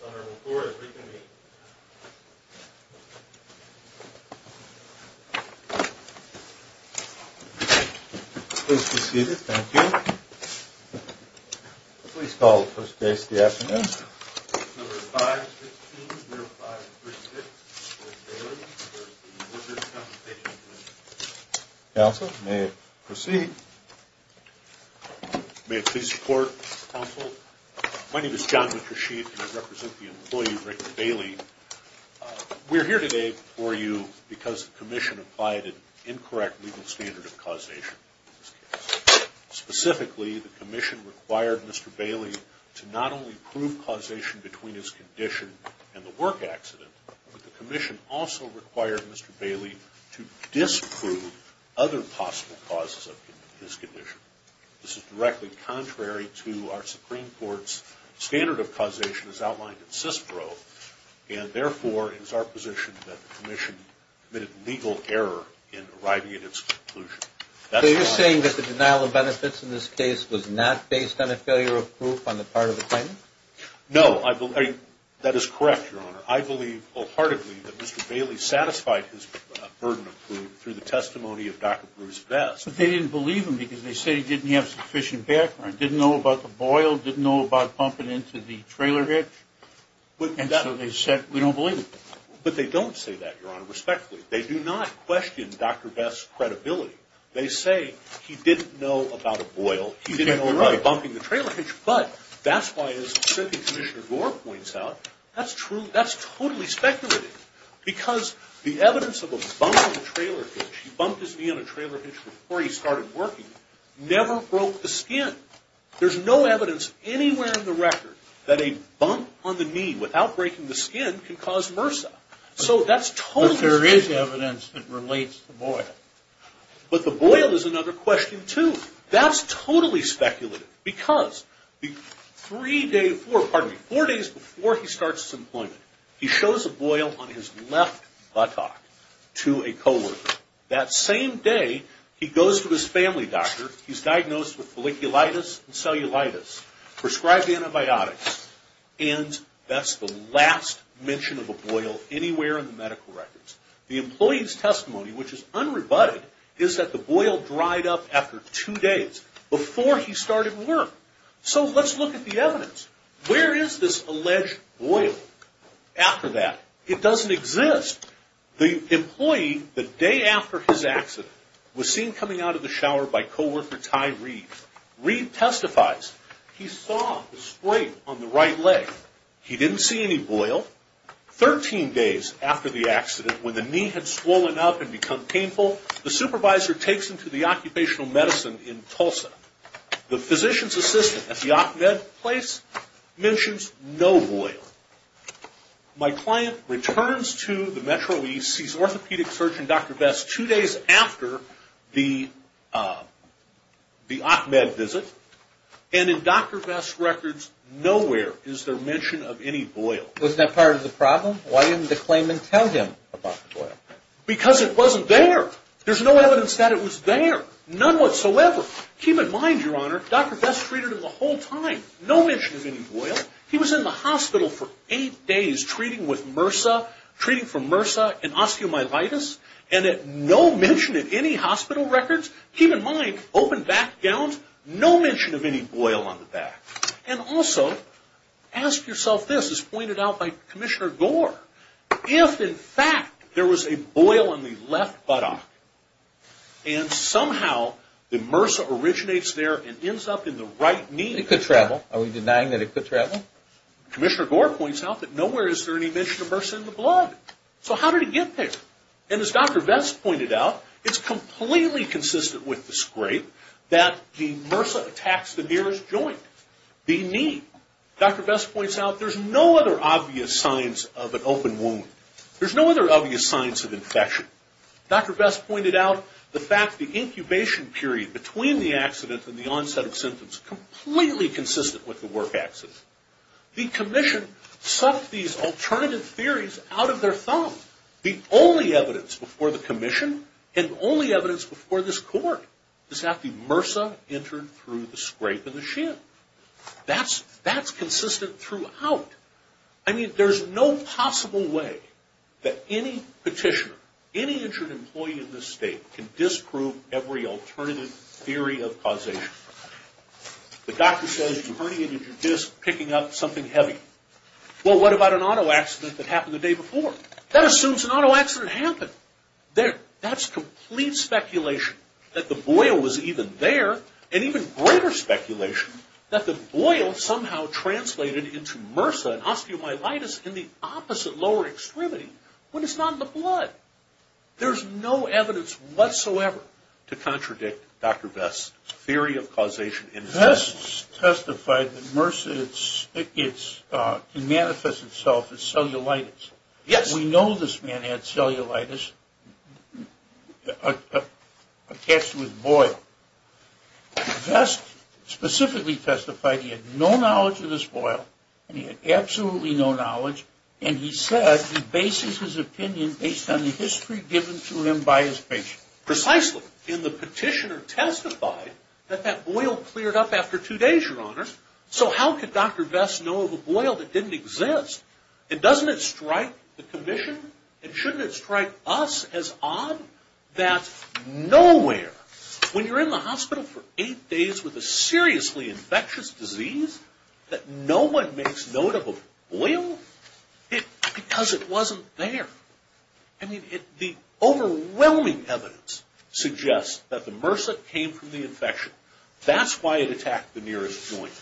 Senator McCord, if we can meet. Please be seated. Thank you. Please call the first case of the afternoon. Number 515, 0536, George Bailie v. Workers' Compensation Comm'n. Counsel, may it proceed. May it please the Court, Counsel. My name is John McRasheed and I represent the employee Rick Bailie. We're here today for you because the Commission applied an incorrect legal standard of causation in this case. Specifically, the Commission required Mr. Bailie to not only prove causation between his condition and the work accident, but the Commission also required Mr. Bailie to disprove other possible causes of his condition. This is directly contrary to our Supreme Court's standard of causation as outlined in CISPRO. And therefore, it is our position that the Commission committed legal error in arriving at its conclusion. So you're saying that the denial of benefits in this case was not based on a failure of proof on the part of the claimant? No. That is correct, Your Honor. I believe wholeheartedly that Mr. Bailie satisfied his burden of proof through the testimony of Dr. Bruce Vest. So they didn't believe him because they said he didn't have sufficient background, didn't know about the boil, didn't know about bumping into the trailer hitch? And so they said, we don't believe him. But they don't say that, Your Honor, respectfully. They do not question Dr. Vest's credibility. They say he didn't know about a boil, he didn't know about bumping the trailer hitch. But that's why, as Assistant Commissioner Gore points out, that's totally speculative. Because the evidence of a bump in the trailer hitch, he bumped his knee on a trailer hitch before he started working, never broke the skin. There's no evidence anywhere in the record that a bump on the knee without breaking the skin can cause MRSA. So that's totally speculative. But there is evidence that relates to the boil. But the boil is another question, too. That's totally speculative. Because four days before he starts his employment, he shows a boil on his left buttock to a co-worker. That same day, he goes to his family doctor, he's diagnosed with folliculitis and cellulitis, prescribed antibiotics. And that's the last mention of a boil anywhere in the medical records. The employee's testimony, which is unrebutted, is that the boil dried up after two days, before he started work. So let's look at the evidence. Where is this alleged boil after that? It doesn't exist. The employee, the day after his accident, was seen coming out of the shower by co-worker Ty Reed. Reed testifies he saw the sprain on the right leg. He didn't see any boil. Thirteen days after the accident, when the knee had swollen up and become painful, the supervisor takes him to the occupational medicine in Tulsa. The physician's assistant at the OcMed place mentions no boil. My client returns to the Metro East, sees orthopedic surgeon Dr. Vest two days after the OcMed visit. And in Dr. Vest's records, nowhere is there mention of any boil. That's part of the problem. Why didn't the claimant tell him about the boil? Because it wasn't there. There's no evidence that it was there. None whatsoever. Keep in mind, Your Honor, Dr. Vest treated him the whole time. No mention of any boil. He was in the hospital for eight days treating with MRSA, treating for MRSA and osteomyelitis. And at no mention in any hospital records, keep in mind, open back gowns, no mention of any boil on the back. And also, ask yourself this, as pointed out by Commissioner Gore, if in fact there was a boil in the left buttock, and somehow the MRSA originates there and ends up in the right knee... It could travel. Are we denying that it could travel? Commissioner Gore points out that nowhere is there any mention of MRSA in the blood. So how did it get there? And as Dr. Vest pointed out, it's completely consistent with the scrape, that the MRSA attacks the nearest joint, the knee. Dr. Vest points out there's no other obvious signs of an open wound. There's no other obvious signs of infection. Dr. Vest pointed out the fact the incubation period between the accident and the onset of symptoms is completely consistent with the work accident. The Commission sucked these alternative theories out of their thumb. The only evidence before the Commission, and the only evidence before this court, is that the MRSA entered through the scrape in the shin. That's consistent throughout. I mean, there's no possible way that any petitioner, any injured employee in this state, can disprove every alternative theory of causation. The doctor says you herniated your disc picking up something heavy. Well, what about an auto accident that happened the day before? Who assumes an auto accident happened? That's complete speculation. That the boil was even there, and even greater speculation, that the boil somehow translated into MRSA and osteomyelitis in the opposite lower extremity, when it's not in the blood. There's no evidence whatsoever to contradict Dr. Vest's theory of causation. Vest testified that MRSA manifests itself as cellulitis. Yes. We know this man had cellulitis attached to his boil. Vest specifically testified he had no knowledge of this boil, and he had absolutely no knowledge, and he said he bases his opinion based on the history given to him by his patient. Precisely. And the petitioner testified that that boil cleared up after two days, Your Honor. So how could Dr. Vest know of a boil that didn't exist? And doesn't it strike the commission? And shouldn't it strike us as odd that nowhere, when you're in the hospital for eight days with a seriously infectious disease, that no one makes note of a boil? Because it wasn't there. I mean, the overwhelming evidence suggests that the MRSA came from the infection. That's why it attacked the nearest joint.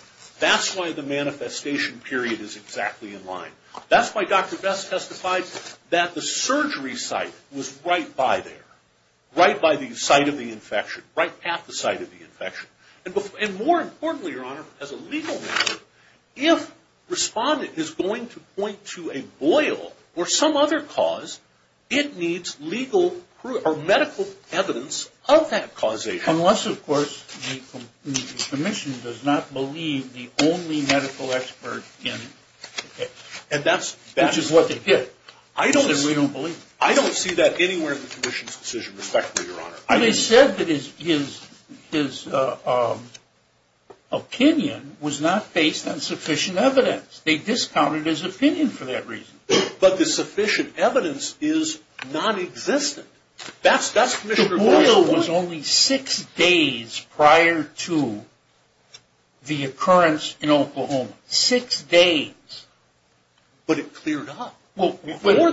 That's why the manifestation period is exactly in line. That's why Dr. Vest testified that the surgery site was right by there, right by the site of the infection, right at the site of the infection. And more importantly, Your Honor, as a legal matter, if Respondent is going to point to a boil or some other cause, it needs legal or medical evidence of that causation. Unless, of course, the commission does not believe the only medical expert in the case. Which is what they did. I don't see that anywhere in the commission's decision, respectfully, Your Honor. They said that his opinion was not based on sufficient evidence. They discounted his opinion for that reason. But the sufficient evidence is nonexistent. That's Commissioner Boyle's point. The boil was only six days prior to the occurrence in Oklahoma. Six days. But it cleared up.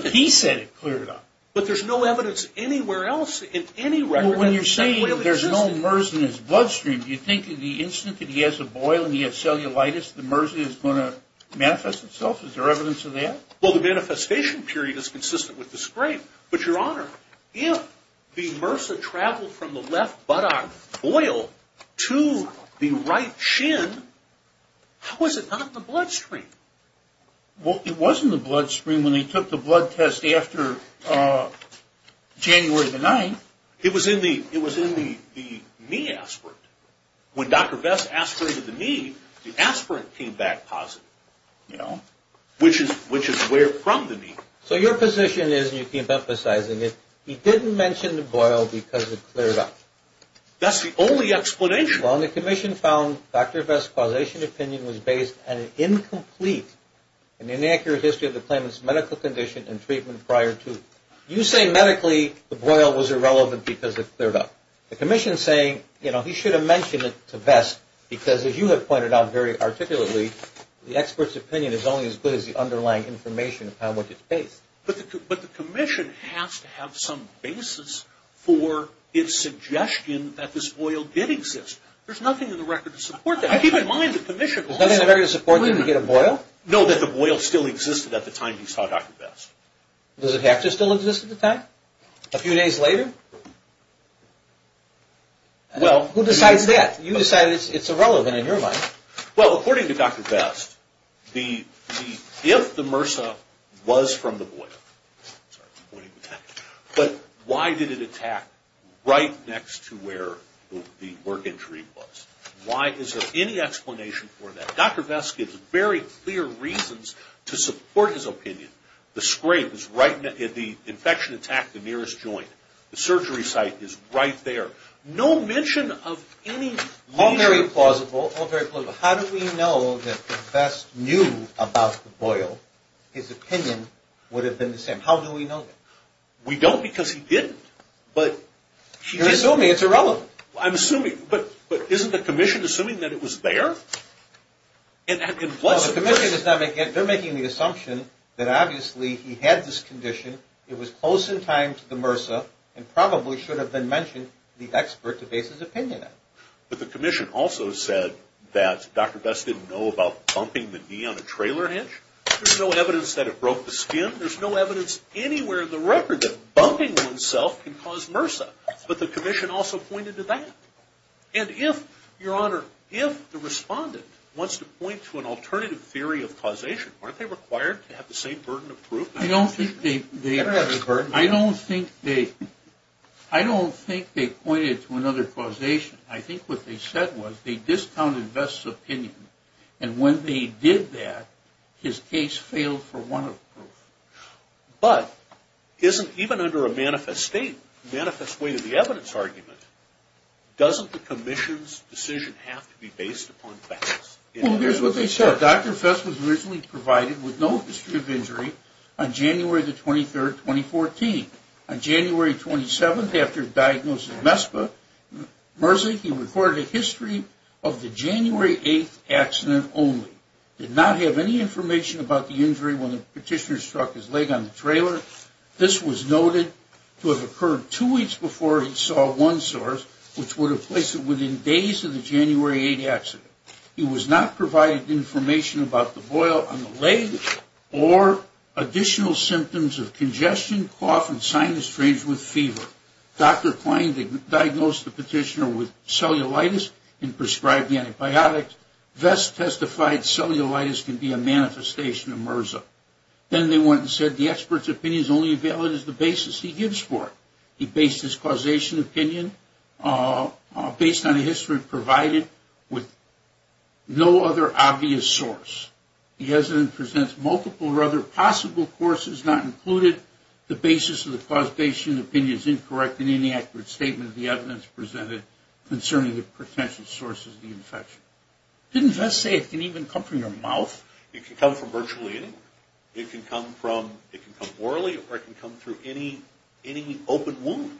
He said it cleared up. But there's no evidence anywhere else in any record. Well, when you're saying there's no MRSA in his bloodstream, do you think that the instant that he has a boil and he has cellulitis, the MRSA is going to manifest itself? Is there evidence of that? Well, the manifestation period is consistent with the scrape. But, Your Honor, if the MRSA traveled from the left buttock boil to the right shin, how is it not in the bloodstream? Well, it was in the bloodstream when they took the blood test after January the 9th. It was in the knee aspirate. When Dr. Vest aspirated the knee, the aspirate came back positive. You know? Which is where from the knee. So your position is, and you keep emphasizing it, he didn't mention the boil because it cleared up. That's the only explanation. Well, and the commission found Dr. Vest's causation opinion was based on an incomplete and inaccurate history of the claimant's medical condition and treatment prior to. You say medically the boil was irrelevant because it cleared up. The commission is saying, you know, he should have mentioned it to Vest because, as you have pointed out very articulately, the expert's opinion is only as good as the underlying information upon which it's based. But the commission has to have some basis for its suggestion that this boil did exist. There's nothing in the record to support that. I keep in mind the commission also. There's nothing in the record to support that he did a boil? No, that the boil still existed at the time he saw Dr. Vest. Does it have to still exist at the time? A few days later? Well. Who decides that? You decide it's irrelevant in your mind. Dr. Vest, if the MRSA was from the boil, but why did it attack right next to where the work injury was? Is there any explanation for that? Dr. Vest gives very clear reasons to support his opinion. The scrape is right in the infection attack, the nearest joint. The surgery site is right there. No mention of any injury. All very plausible. If Dr. Vest knew about the boil, his opinion would have been the same. How do we know that? We don't because he didn't. You're assuming it's irrelevant. I'm assuming. But isn't the commission assuming that it was there? No, the commission is making the assumption that obviously he had this condition. It was close in time to the MRSA and probably should have been mentioned to the expert to base his opinion on. But the commission also said that Dr. Vest didn't know about bumping the knee on a trailer hitch. There's no evidence that it broke the skin. There's no evidence anywhere in the record that bumping oneself can cause MRSA. But the commission also pointed to that. And if, Your Honor, if the respondent wants to point to an alternative theory of causation, aren't they required to have the same burden of proof? I don't think they pointed to another causation. I think what they said was they discounted Vest's opinion. And when they did that, his case failed for want of proof. But even under a manifest way to the evidence argument, doesn't the commission's decision have to be based upon Vest? Well, here's what they said. Dr. Vest was originally provided with no history of injury on January 23, 2014. On January 27, after diagnosis of MSPA MRSA, he recorded a history of the January 8 accident only. Did not have any information about the injury when the petitioner struck his leg on the trailer. This was noted to have occurred two weeks before he saw one source, which would have placed it within days of the January 8 accident. He was not provided information about the boil on the leg or additional symptoms of congestion, cough, and sinus strains with fever. Dr. Klein diagnosed the petitioner with cellulitis and prescribed the antibiotics. Vest testified cellulitis can be a manifestation of MRSA. Then they went and said the expert's opinion is only valid as the basis he gives for it. He based his causation opinion based on a history provided with no other obvious source. He hasn't presented multiple or other possible courses, not included the basis of the causation opinion is incorrect in any accurate statement of the evidence presented concerning the potential sources of the infection. Didn't Vest say it can even come from your mouth? It can come from virtually anywhere. It can come from, it can come orally or it can come through any open wound.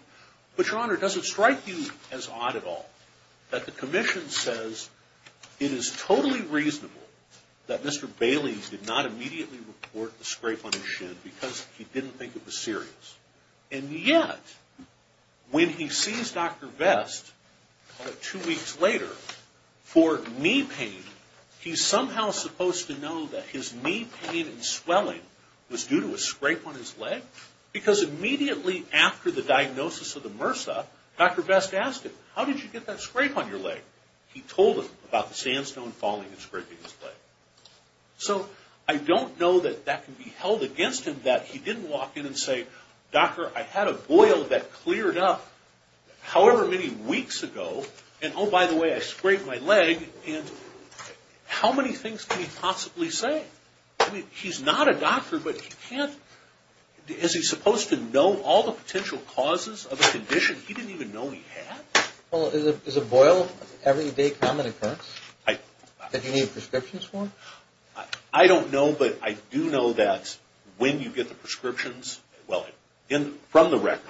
But your honor, does it strike you as odd at all that the commission says it is totally reasonable that Mr. Bailey did not immediately report the scrape on his shin because he didn't think it was serious. And yet, when he sees Dr. Vest, two weeks later, for knee pain, he's somehow supposed to know that his knee pain and swelling was due to a scrape on his leg. Because immediately after the diagnosis of the MRSA, Dr. Vest asked him, how did you get that scrape on your leg? He told him about the sandstone falling and scraping his leg. So, I don't know that that can be held against him that he didn't walk in and say, doctor, I had a boil that cleared up however many weeks ago. And oh, by the way, I scraped my leg. And how many things can he possibly say? I mean, he's not a doctor, but he can't, is he supposed to know all the potential causes of a condition he didn't even know he had? Well, is a boil an everyday common occurrence that you need prescriptions for? I don't know, but I do know that when you get the prescriptions, well, from the record,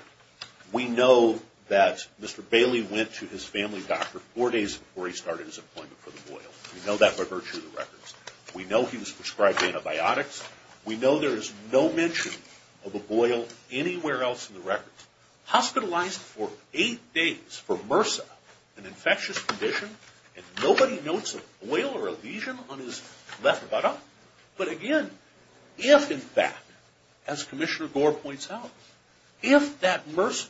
we know that Mr. Bailey went to his family doctor four days before he started his appointment for the boil. We know that by virtue of the records. We know he was prescribed antibiotics. We know there is no mention of a boil anywhere else in the records. He was hospitalized for eight days for MRSA, an infectious condition. And nobody notes a boil or a lesion on his left buttock. But again, if in fact, as Commissioner Gore points out, if that MRSA...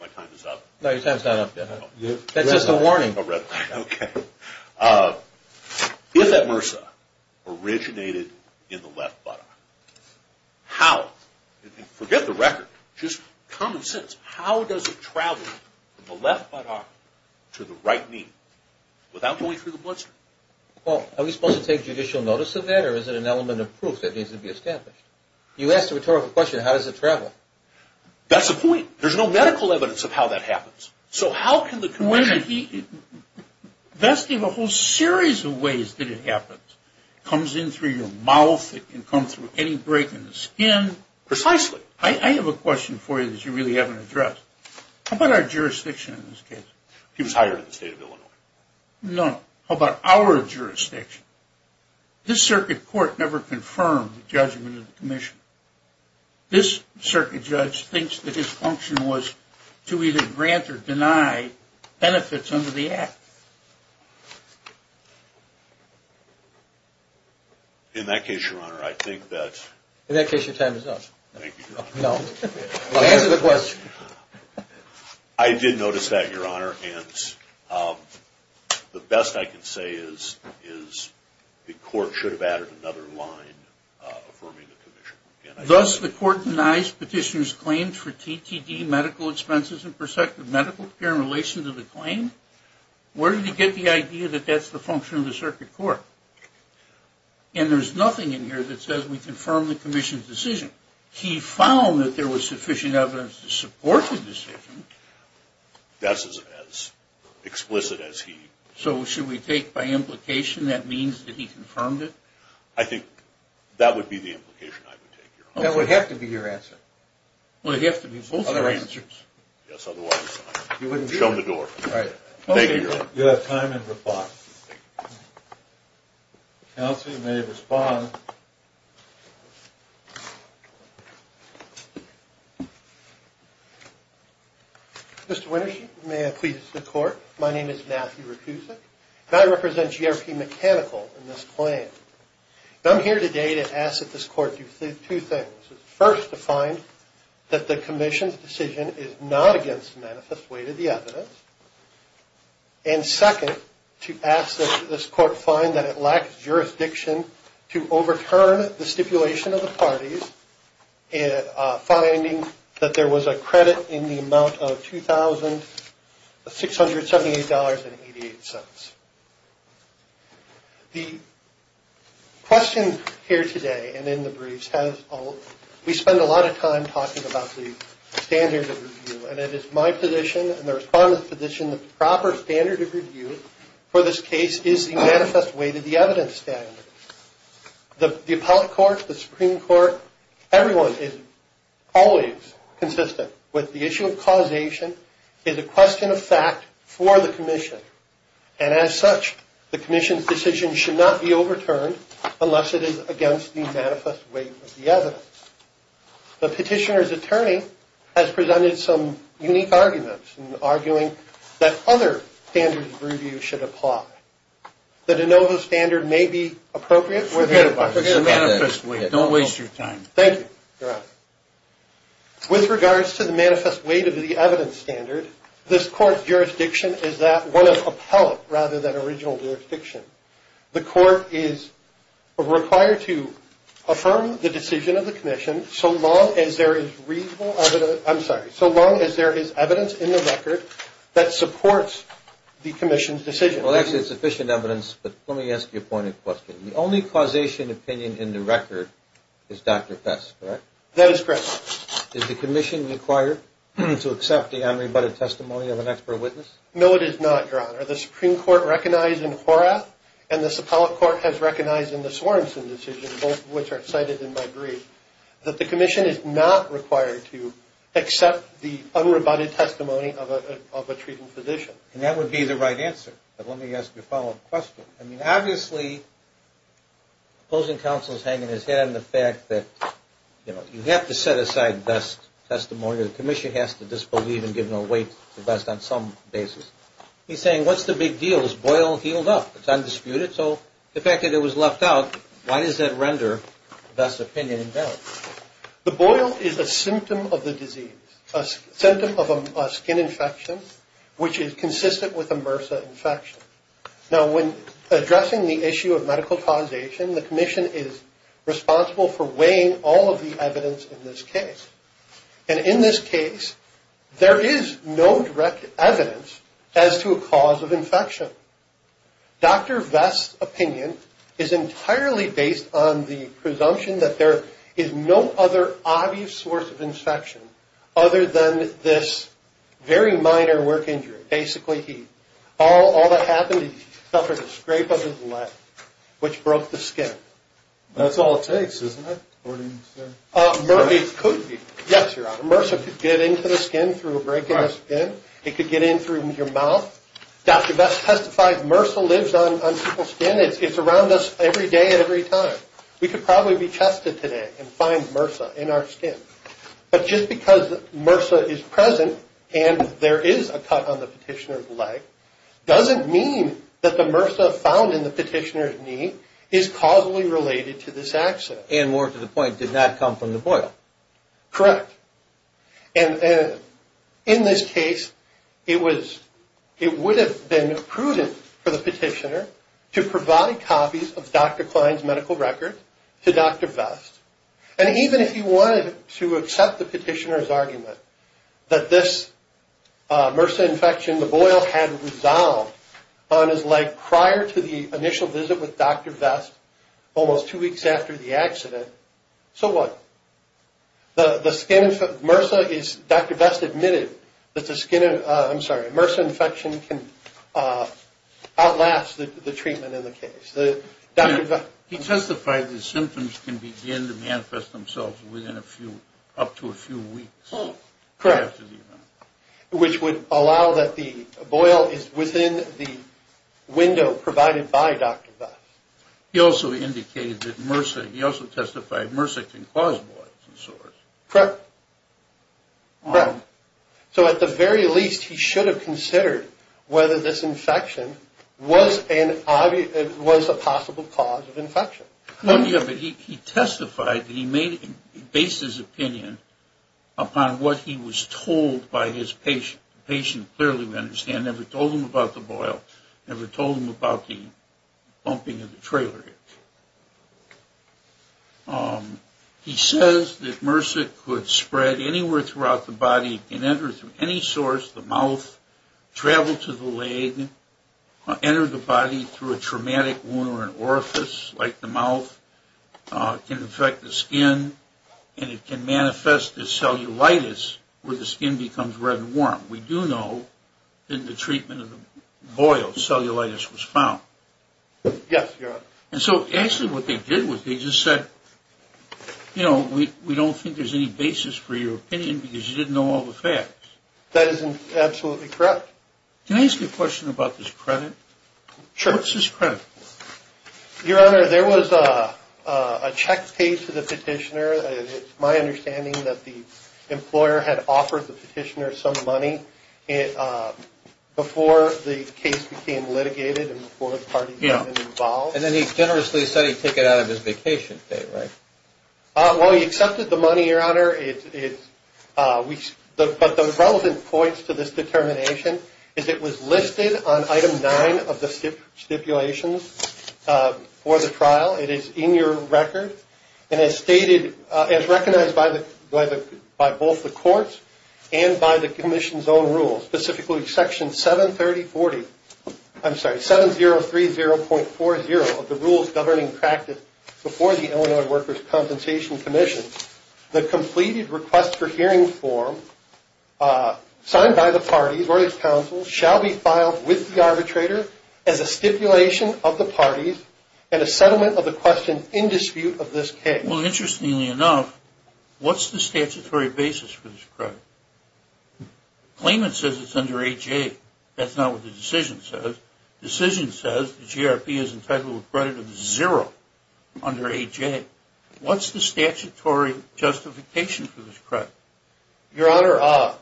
My time is up. That's just a warning. Okay. If that MRSA originated in the left buttock. How? Forget the record. Just common sense. How does it travel from the left buttock to the right knee without going through the bloodstream? Well, are we supposed to take judicial notice of that or is it an element of proof that needs to be established? You asked a rhetorical question, how does it travel? That's the point. There's no medical evidence of how that happens. So how can the condition... There's a whole series of ways that it happens. It comes in through your mouth. It can come through any break in the skin. Precisely. I have a question for you that you really haven't addressed. How about our jurisdiction in this case? He was hired in the state of Illinois. No. How about our jurisdiction? This circuit court never confirmed the judgment of the commission. This circuit judge thinks that his function was to either grant or deny benefits under the act. In that case, Your Honor, I think that... In that case, your time is up. Thank you, Your Honor. Answer the question. I did notice that, Your Honor, and the best I can say is the court should have added another line affirming the commission. Thus, the court denies petitioner's claim for TTD medical expenses and prospective medical care in relation to the claim. Where did he get the idea that that's the function of the circuit court? And there's nothing in here that says we confirmed the commission's decision. He found that there was sufficient evidence to support the decision. That's as explicit as he... So should we take by implication that means that he confirmed it? I think that would be the implication I would take. That would have to be your answer. It would have to be both of your answers. Yes, otherwise... You wouldn't do it. Show him the door. Thank you, Your Honor. You have time in the box. Counsel, you may respond. Mr. Wintershe, may I please the court? My name is Matthew Rutusik, and I represent GRP Mechanical in this claim. I'm here today to ask that this court do two things. First, to find that the commission's decision is not against the manifest weight of the evidence. And second, to ask that this court find that it lacks jurisdiction to overturn the stipulation of the parties in finding that there was a credit in the amount of $2,678.88. The question here today and in the briefs has... We spend a lot of time talking about the standard of review, and it is my position and the respondent's position that the proper standard of review for this case is the manifest weight of the evidence standard. The appellate court, the Supreme Court, everyone is always consistent with the issue of causation is a question of fact for the commission. And as such, the commission's decision should not be overturned unless it is against the manifest weight of the evidence. The petitioner's attorney has presented some unique arguments in arguing that other standards of review should apply. The de novo standard may be appropriate... Forget about that. Don't waste your time. Thank you, Your Honor. With regards to the manifest weight of the evidence standard, this court's jurisdiction is that one of appellate rather than original jurisdiction. The court is required to affirm the decision of the commission so long as there is reasonable evidence... I'm sorry. So long as there is evidence in the record that supports the commission's decision. Well, actually, it's sufficient evidence, but let me ask you a pointed question. The only causation opinion in the record is Dr. Fess, correct? That is correct. Is the commission required to accept the unrebutted testimony of an expert witness? No, it is not, Your Honor. The Supreme Court recognized in Horath and the appellate court has recognized in the Sorenson decision, both of which are cited in my brief, that the commission is not required to accept the unrebutted testimony of a treating physician. And that would be the right answer. But let me ask you a follow-up question. I mean, obviously, opposing counsel is hanging his head in the fact that, you know, you have to set aside best testimony, or the commission has to disbelieve and give no weight to best on some basis. He's saying, what's the big deal? His boil healed up. It's undisputed. So the fact that it was left out, why does that render best opinion invalid? The boil is a symptom of the disease, a symptom of a skin infection, which is consistent with a MRSA infection. Now, when addressing the issue of medical causation, the commission is responsible for weighing all of the evidence in this case. And in this case, there is no direct evidence as to a cause of infection. Dr. Vest's opinion is entirely based on the presumption that there is no other obvious source of infection other than this very minor work injury. Basically, all that happened, he suffered a scrape of his leg, which broke the skin. That's all it takes, isn't it? It could be. Yes, Your Honor. MRSA could get into the skin through a break in the skin. It could get in through your mouth. Dr. Vest testified MRSA lives on people's skin. It's around us every day and every time. We could probably be tested today and find MRSA in our skin. Doesn't mean that the MRSA found in the petitioner's knee is causally related to this accident. And more to the point, did not come from the boil. Correct. And in this case, it would have been prudent for the petitioner to provide copies of Dr. Klein's medical record to Dr. Vest. And even if he wanted to accept the petitioner's argument that this MRSA infection, the boil, had resolved on his leg prior to the initial visit with Dr. Vest, almost two weeks after the accident, so what? The skin, MRSA is, Dr. Vest admitted that the skin, I'm sorry, MRSA infection can outlast the treatment in the case. He testified the symptoms can begin to manifest themselves within a few, up to a few weeks. Correct. Which would allow that the boil is within the window provided by Dr. Vest. He also indicated that MRSA, he also testified MRSA can cause boils of sorts. Correct. So at the very least, he should have considered whether this infection was a possible cause of infection. Well, yeah, but he testified that he made, based his opinion upon what he was told by his patient. The patient clearly would understand, never told him about the boil, never told him about the bumping of the trailer. He says that MRSA could spread anywhere throughout the body and enter through any source, the mouth, travel to the leg, enter the body through a traumatic wound or an orifice like the mouth, can infect the skin, and it can manifest as cellulitis where the skin becomes red and warm. We do know that the treatment of the boil, cellulitis, was found. Yes, Your Honor. And so actually what they did was they just said, you know, we don't think there's any basis for your opinion because you didn't know all the facts. That is absolutely correct. Can I ask you a question about this credit? Sure. What's this credit for? Your Honor, there was a check paid to the petitioner. It's my understanding that the employer had offered the petitioner some money before the case became litigated and before the parties got involved. And then he generously said he'd take it out of his vacation, right? Well, he accepted the money, Your Honor. But the relevant points to this determination is it was listed on Item 9 of the stipulations for the trial. It is in your record and as stated, as recognized by both the courts and by the Commission's own rules, specifically Section 730.40, I'm sorry, 7030.40 of the Rules Governing Practice before the Illinois Workers' Compensation Commission, the completed request for hearing form signed by the parties or his counsel shall be filed with the arbitrator as a stipulation of the parties and a settlement of the question in dispute of this case. Well, interestingly enough, what's the statutory basis for this credit? The claimant says it's under A.J. That's not what the decision says. The decision says the GRP is entitled to credit of zero under A.J. What's the statutory justification for this credit? Your Honor,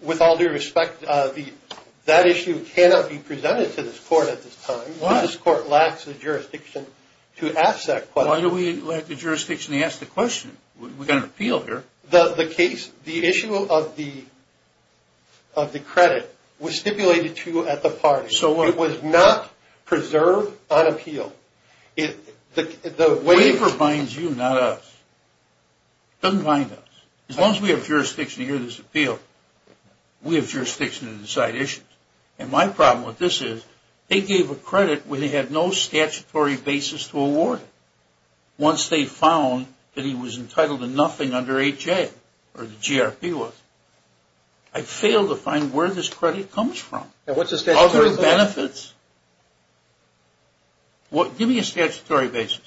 with all due respect, that issue cannot be presented to this court at this time. This court lacks the jurisdiction to ask that question. Why do we lack the jurisdiction to ask the question? We've got an appeal here. The issue of the credit was stipulated to at the parties. It was not preserved on appeal. The waiver binds you, not us. It doesn't bind us. As long as we have jurisdiction to hear this appeal, we have jurisdiction to decide issues. And my problem with this is they gave a credit where they had no statutory basis to award it. Once they found that he was entitled to nothing under A.J. or the GRP was, I failed to find where this credit comes from. Are there benefits? Give me a statutory basis.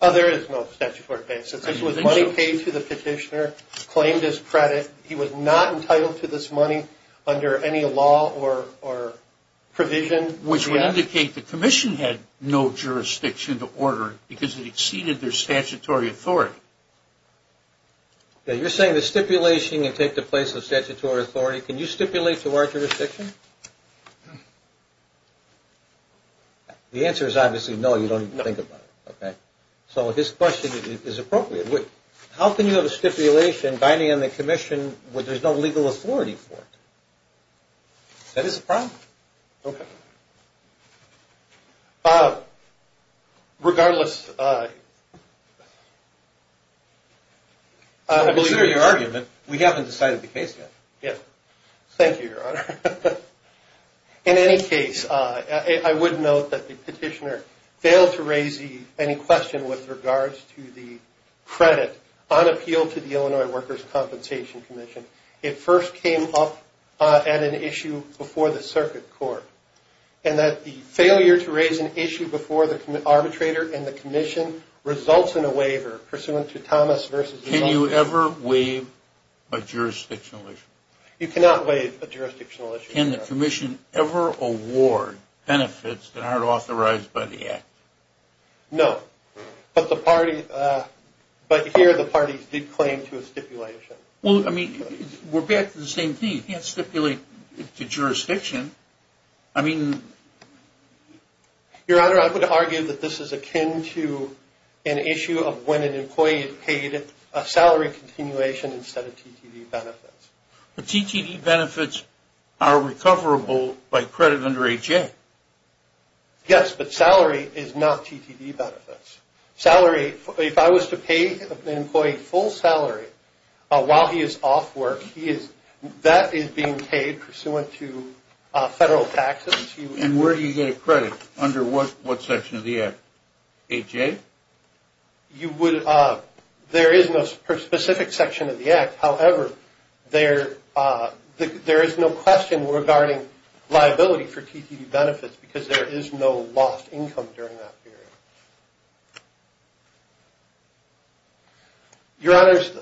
There is no statutory basis. It was money paid to the petitioner, claimed as credit. He was not entitled to this money under any law or provision. Which would indicate the commission had no jurisdiction to order it because it exceeded their statutory authority. You're saying the stipulation can take the place of statutory authority. Can you stipulate to our jurisdiction? The answer is obviously no. You don't even think about it. Okay. So his question is appropriate. How can you have a stipulation binding on the commission where there's no legal authority for it? That is a problem. Okay. Regardless, I believe in your argument, we haven't decided the case yet. Yes. Thank you, Your Honor. In any case, I would note that the petitioner failed to raise any question with regards to the credit on appeal to the Illinois Workers' Compensation Commission. It first came up at an issue before the circuit court. And that the failure to raise an issue before the arbitrator and the commission results in a waiver pursuant to Thomas v. Can you ever waive a jurisdictional issue? You cannot waive a jurisdictional issue, Your Honor. Can the commission ever award benefits that aren't authorized by the act? No. But here the parties did claim to a stipulation. Well, I mean, we're back to the same thing. You can't stipulate to jurisdiction. I mean... Your Honor, I would argue that this is akin to an issue of when an employee paid a salary continuation instead of TTV benefits. But TTV benefits are recoverable by credit under HA. Yes, but salary is not TTV benefits. Salary, if I was to pay an employee full salary while he is off work, that is being paid pursuant to federal taxes. And where do you get a credit? Under what section of the act? HA? There is no specific section of the act. However, there is no question regarding liability for TTV benefits because there is no lost income during that period. Your Honors,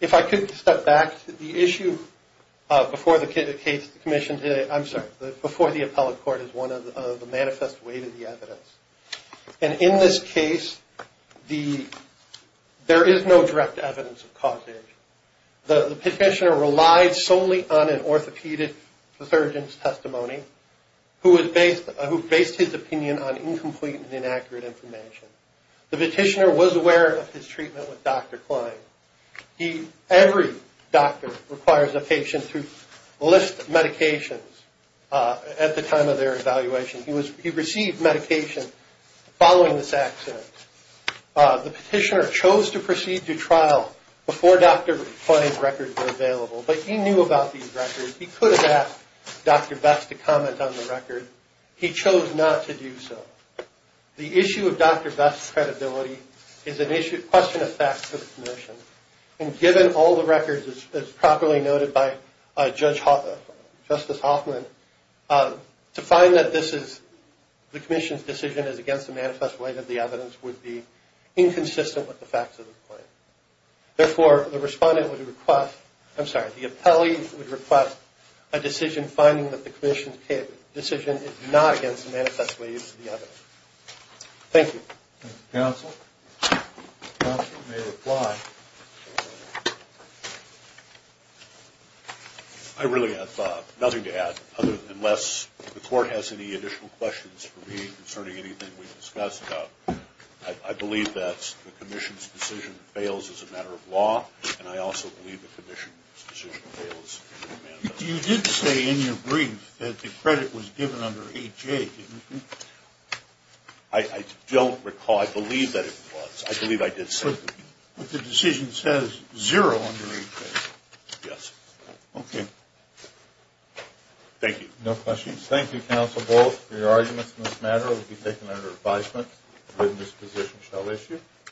if I could step back to the issue before the case of the commission today. I'm sorry, before the appellate court is one of the manifest way to the evidence. And in this case, there is no direct evidence of causation. The petitioner relied solely on an orthopedic surgeon's testimony who based his opinion on incomplete and inaccurate information. The petitioner was aware of his treatment with Dr. Klein. Every doctor requires a patient to list medications at the time of their evaluation. He received medication following this accident. The petitioner chose to proceed to trial before Dr. Klein's records were available. But he knew about these records. He could have asked Dr. Best to comment on the record. He chose not to do so. The issue of Dr. Best's credibility is a question of facts for the commission. And given all the records as properly noted by Justice Hoffman, to find that the commission's decision is against the manifest way to the evidence would be inconsistent with the facts of the claim. Therefore, the respondent would request, I'm sorry, the appellee would request a decision finding that the commission's decision is not against the manifest way to the evidence. Thank you. Counsel, counsel may reply. I really have nothing to add, unless the court has any additional questions for me concerning anything we've discussed. I believe that the commission's decision fails as a matter of law. And I also believe the commission's decision fails. You did say in your brief that the credit was given under A.J., didn't you? I don't recall. I believe that it was. I believe I did say that. But the decision says zero under A.J. Yes. Okay. Thank you. No questions. Thank you, counsel, both. Your arguments in this matter will be taken under advisement. The witness position shall issue.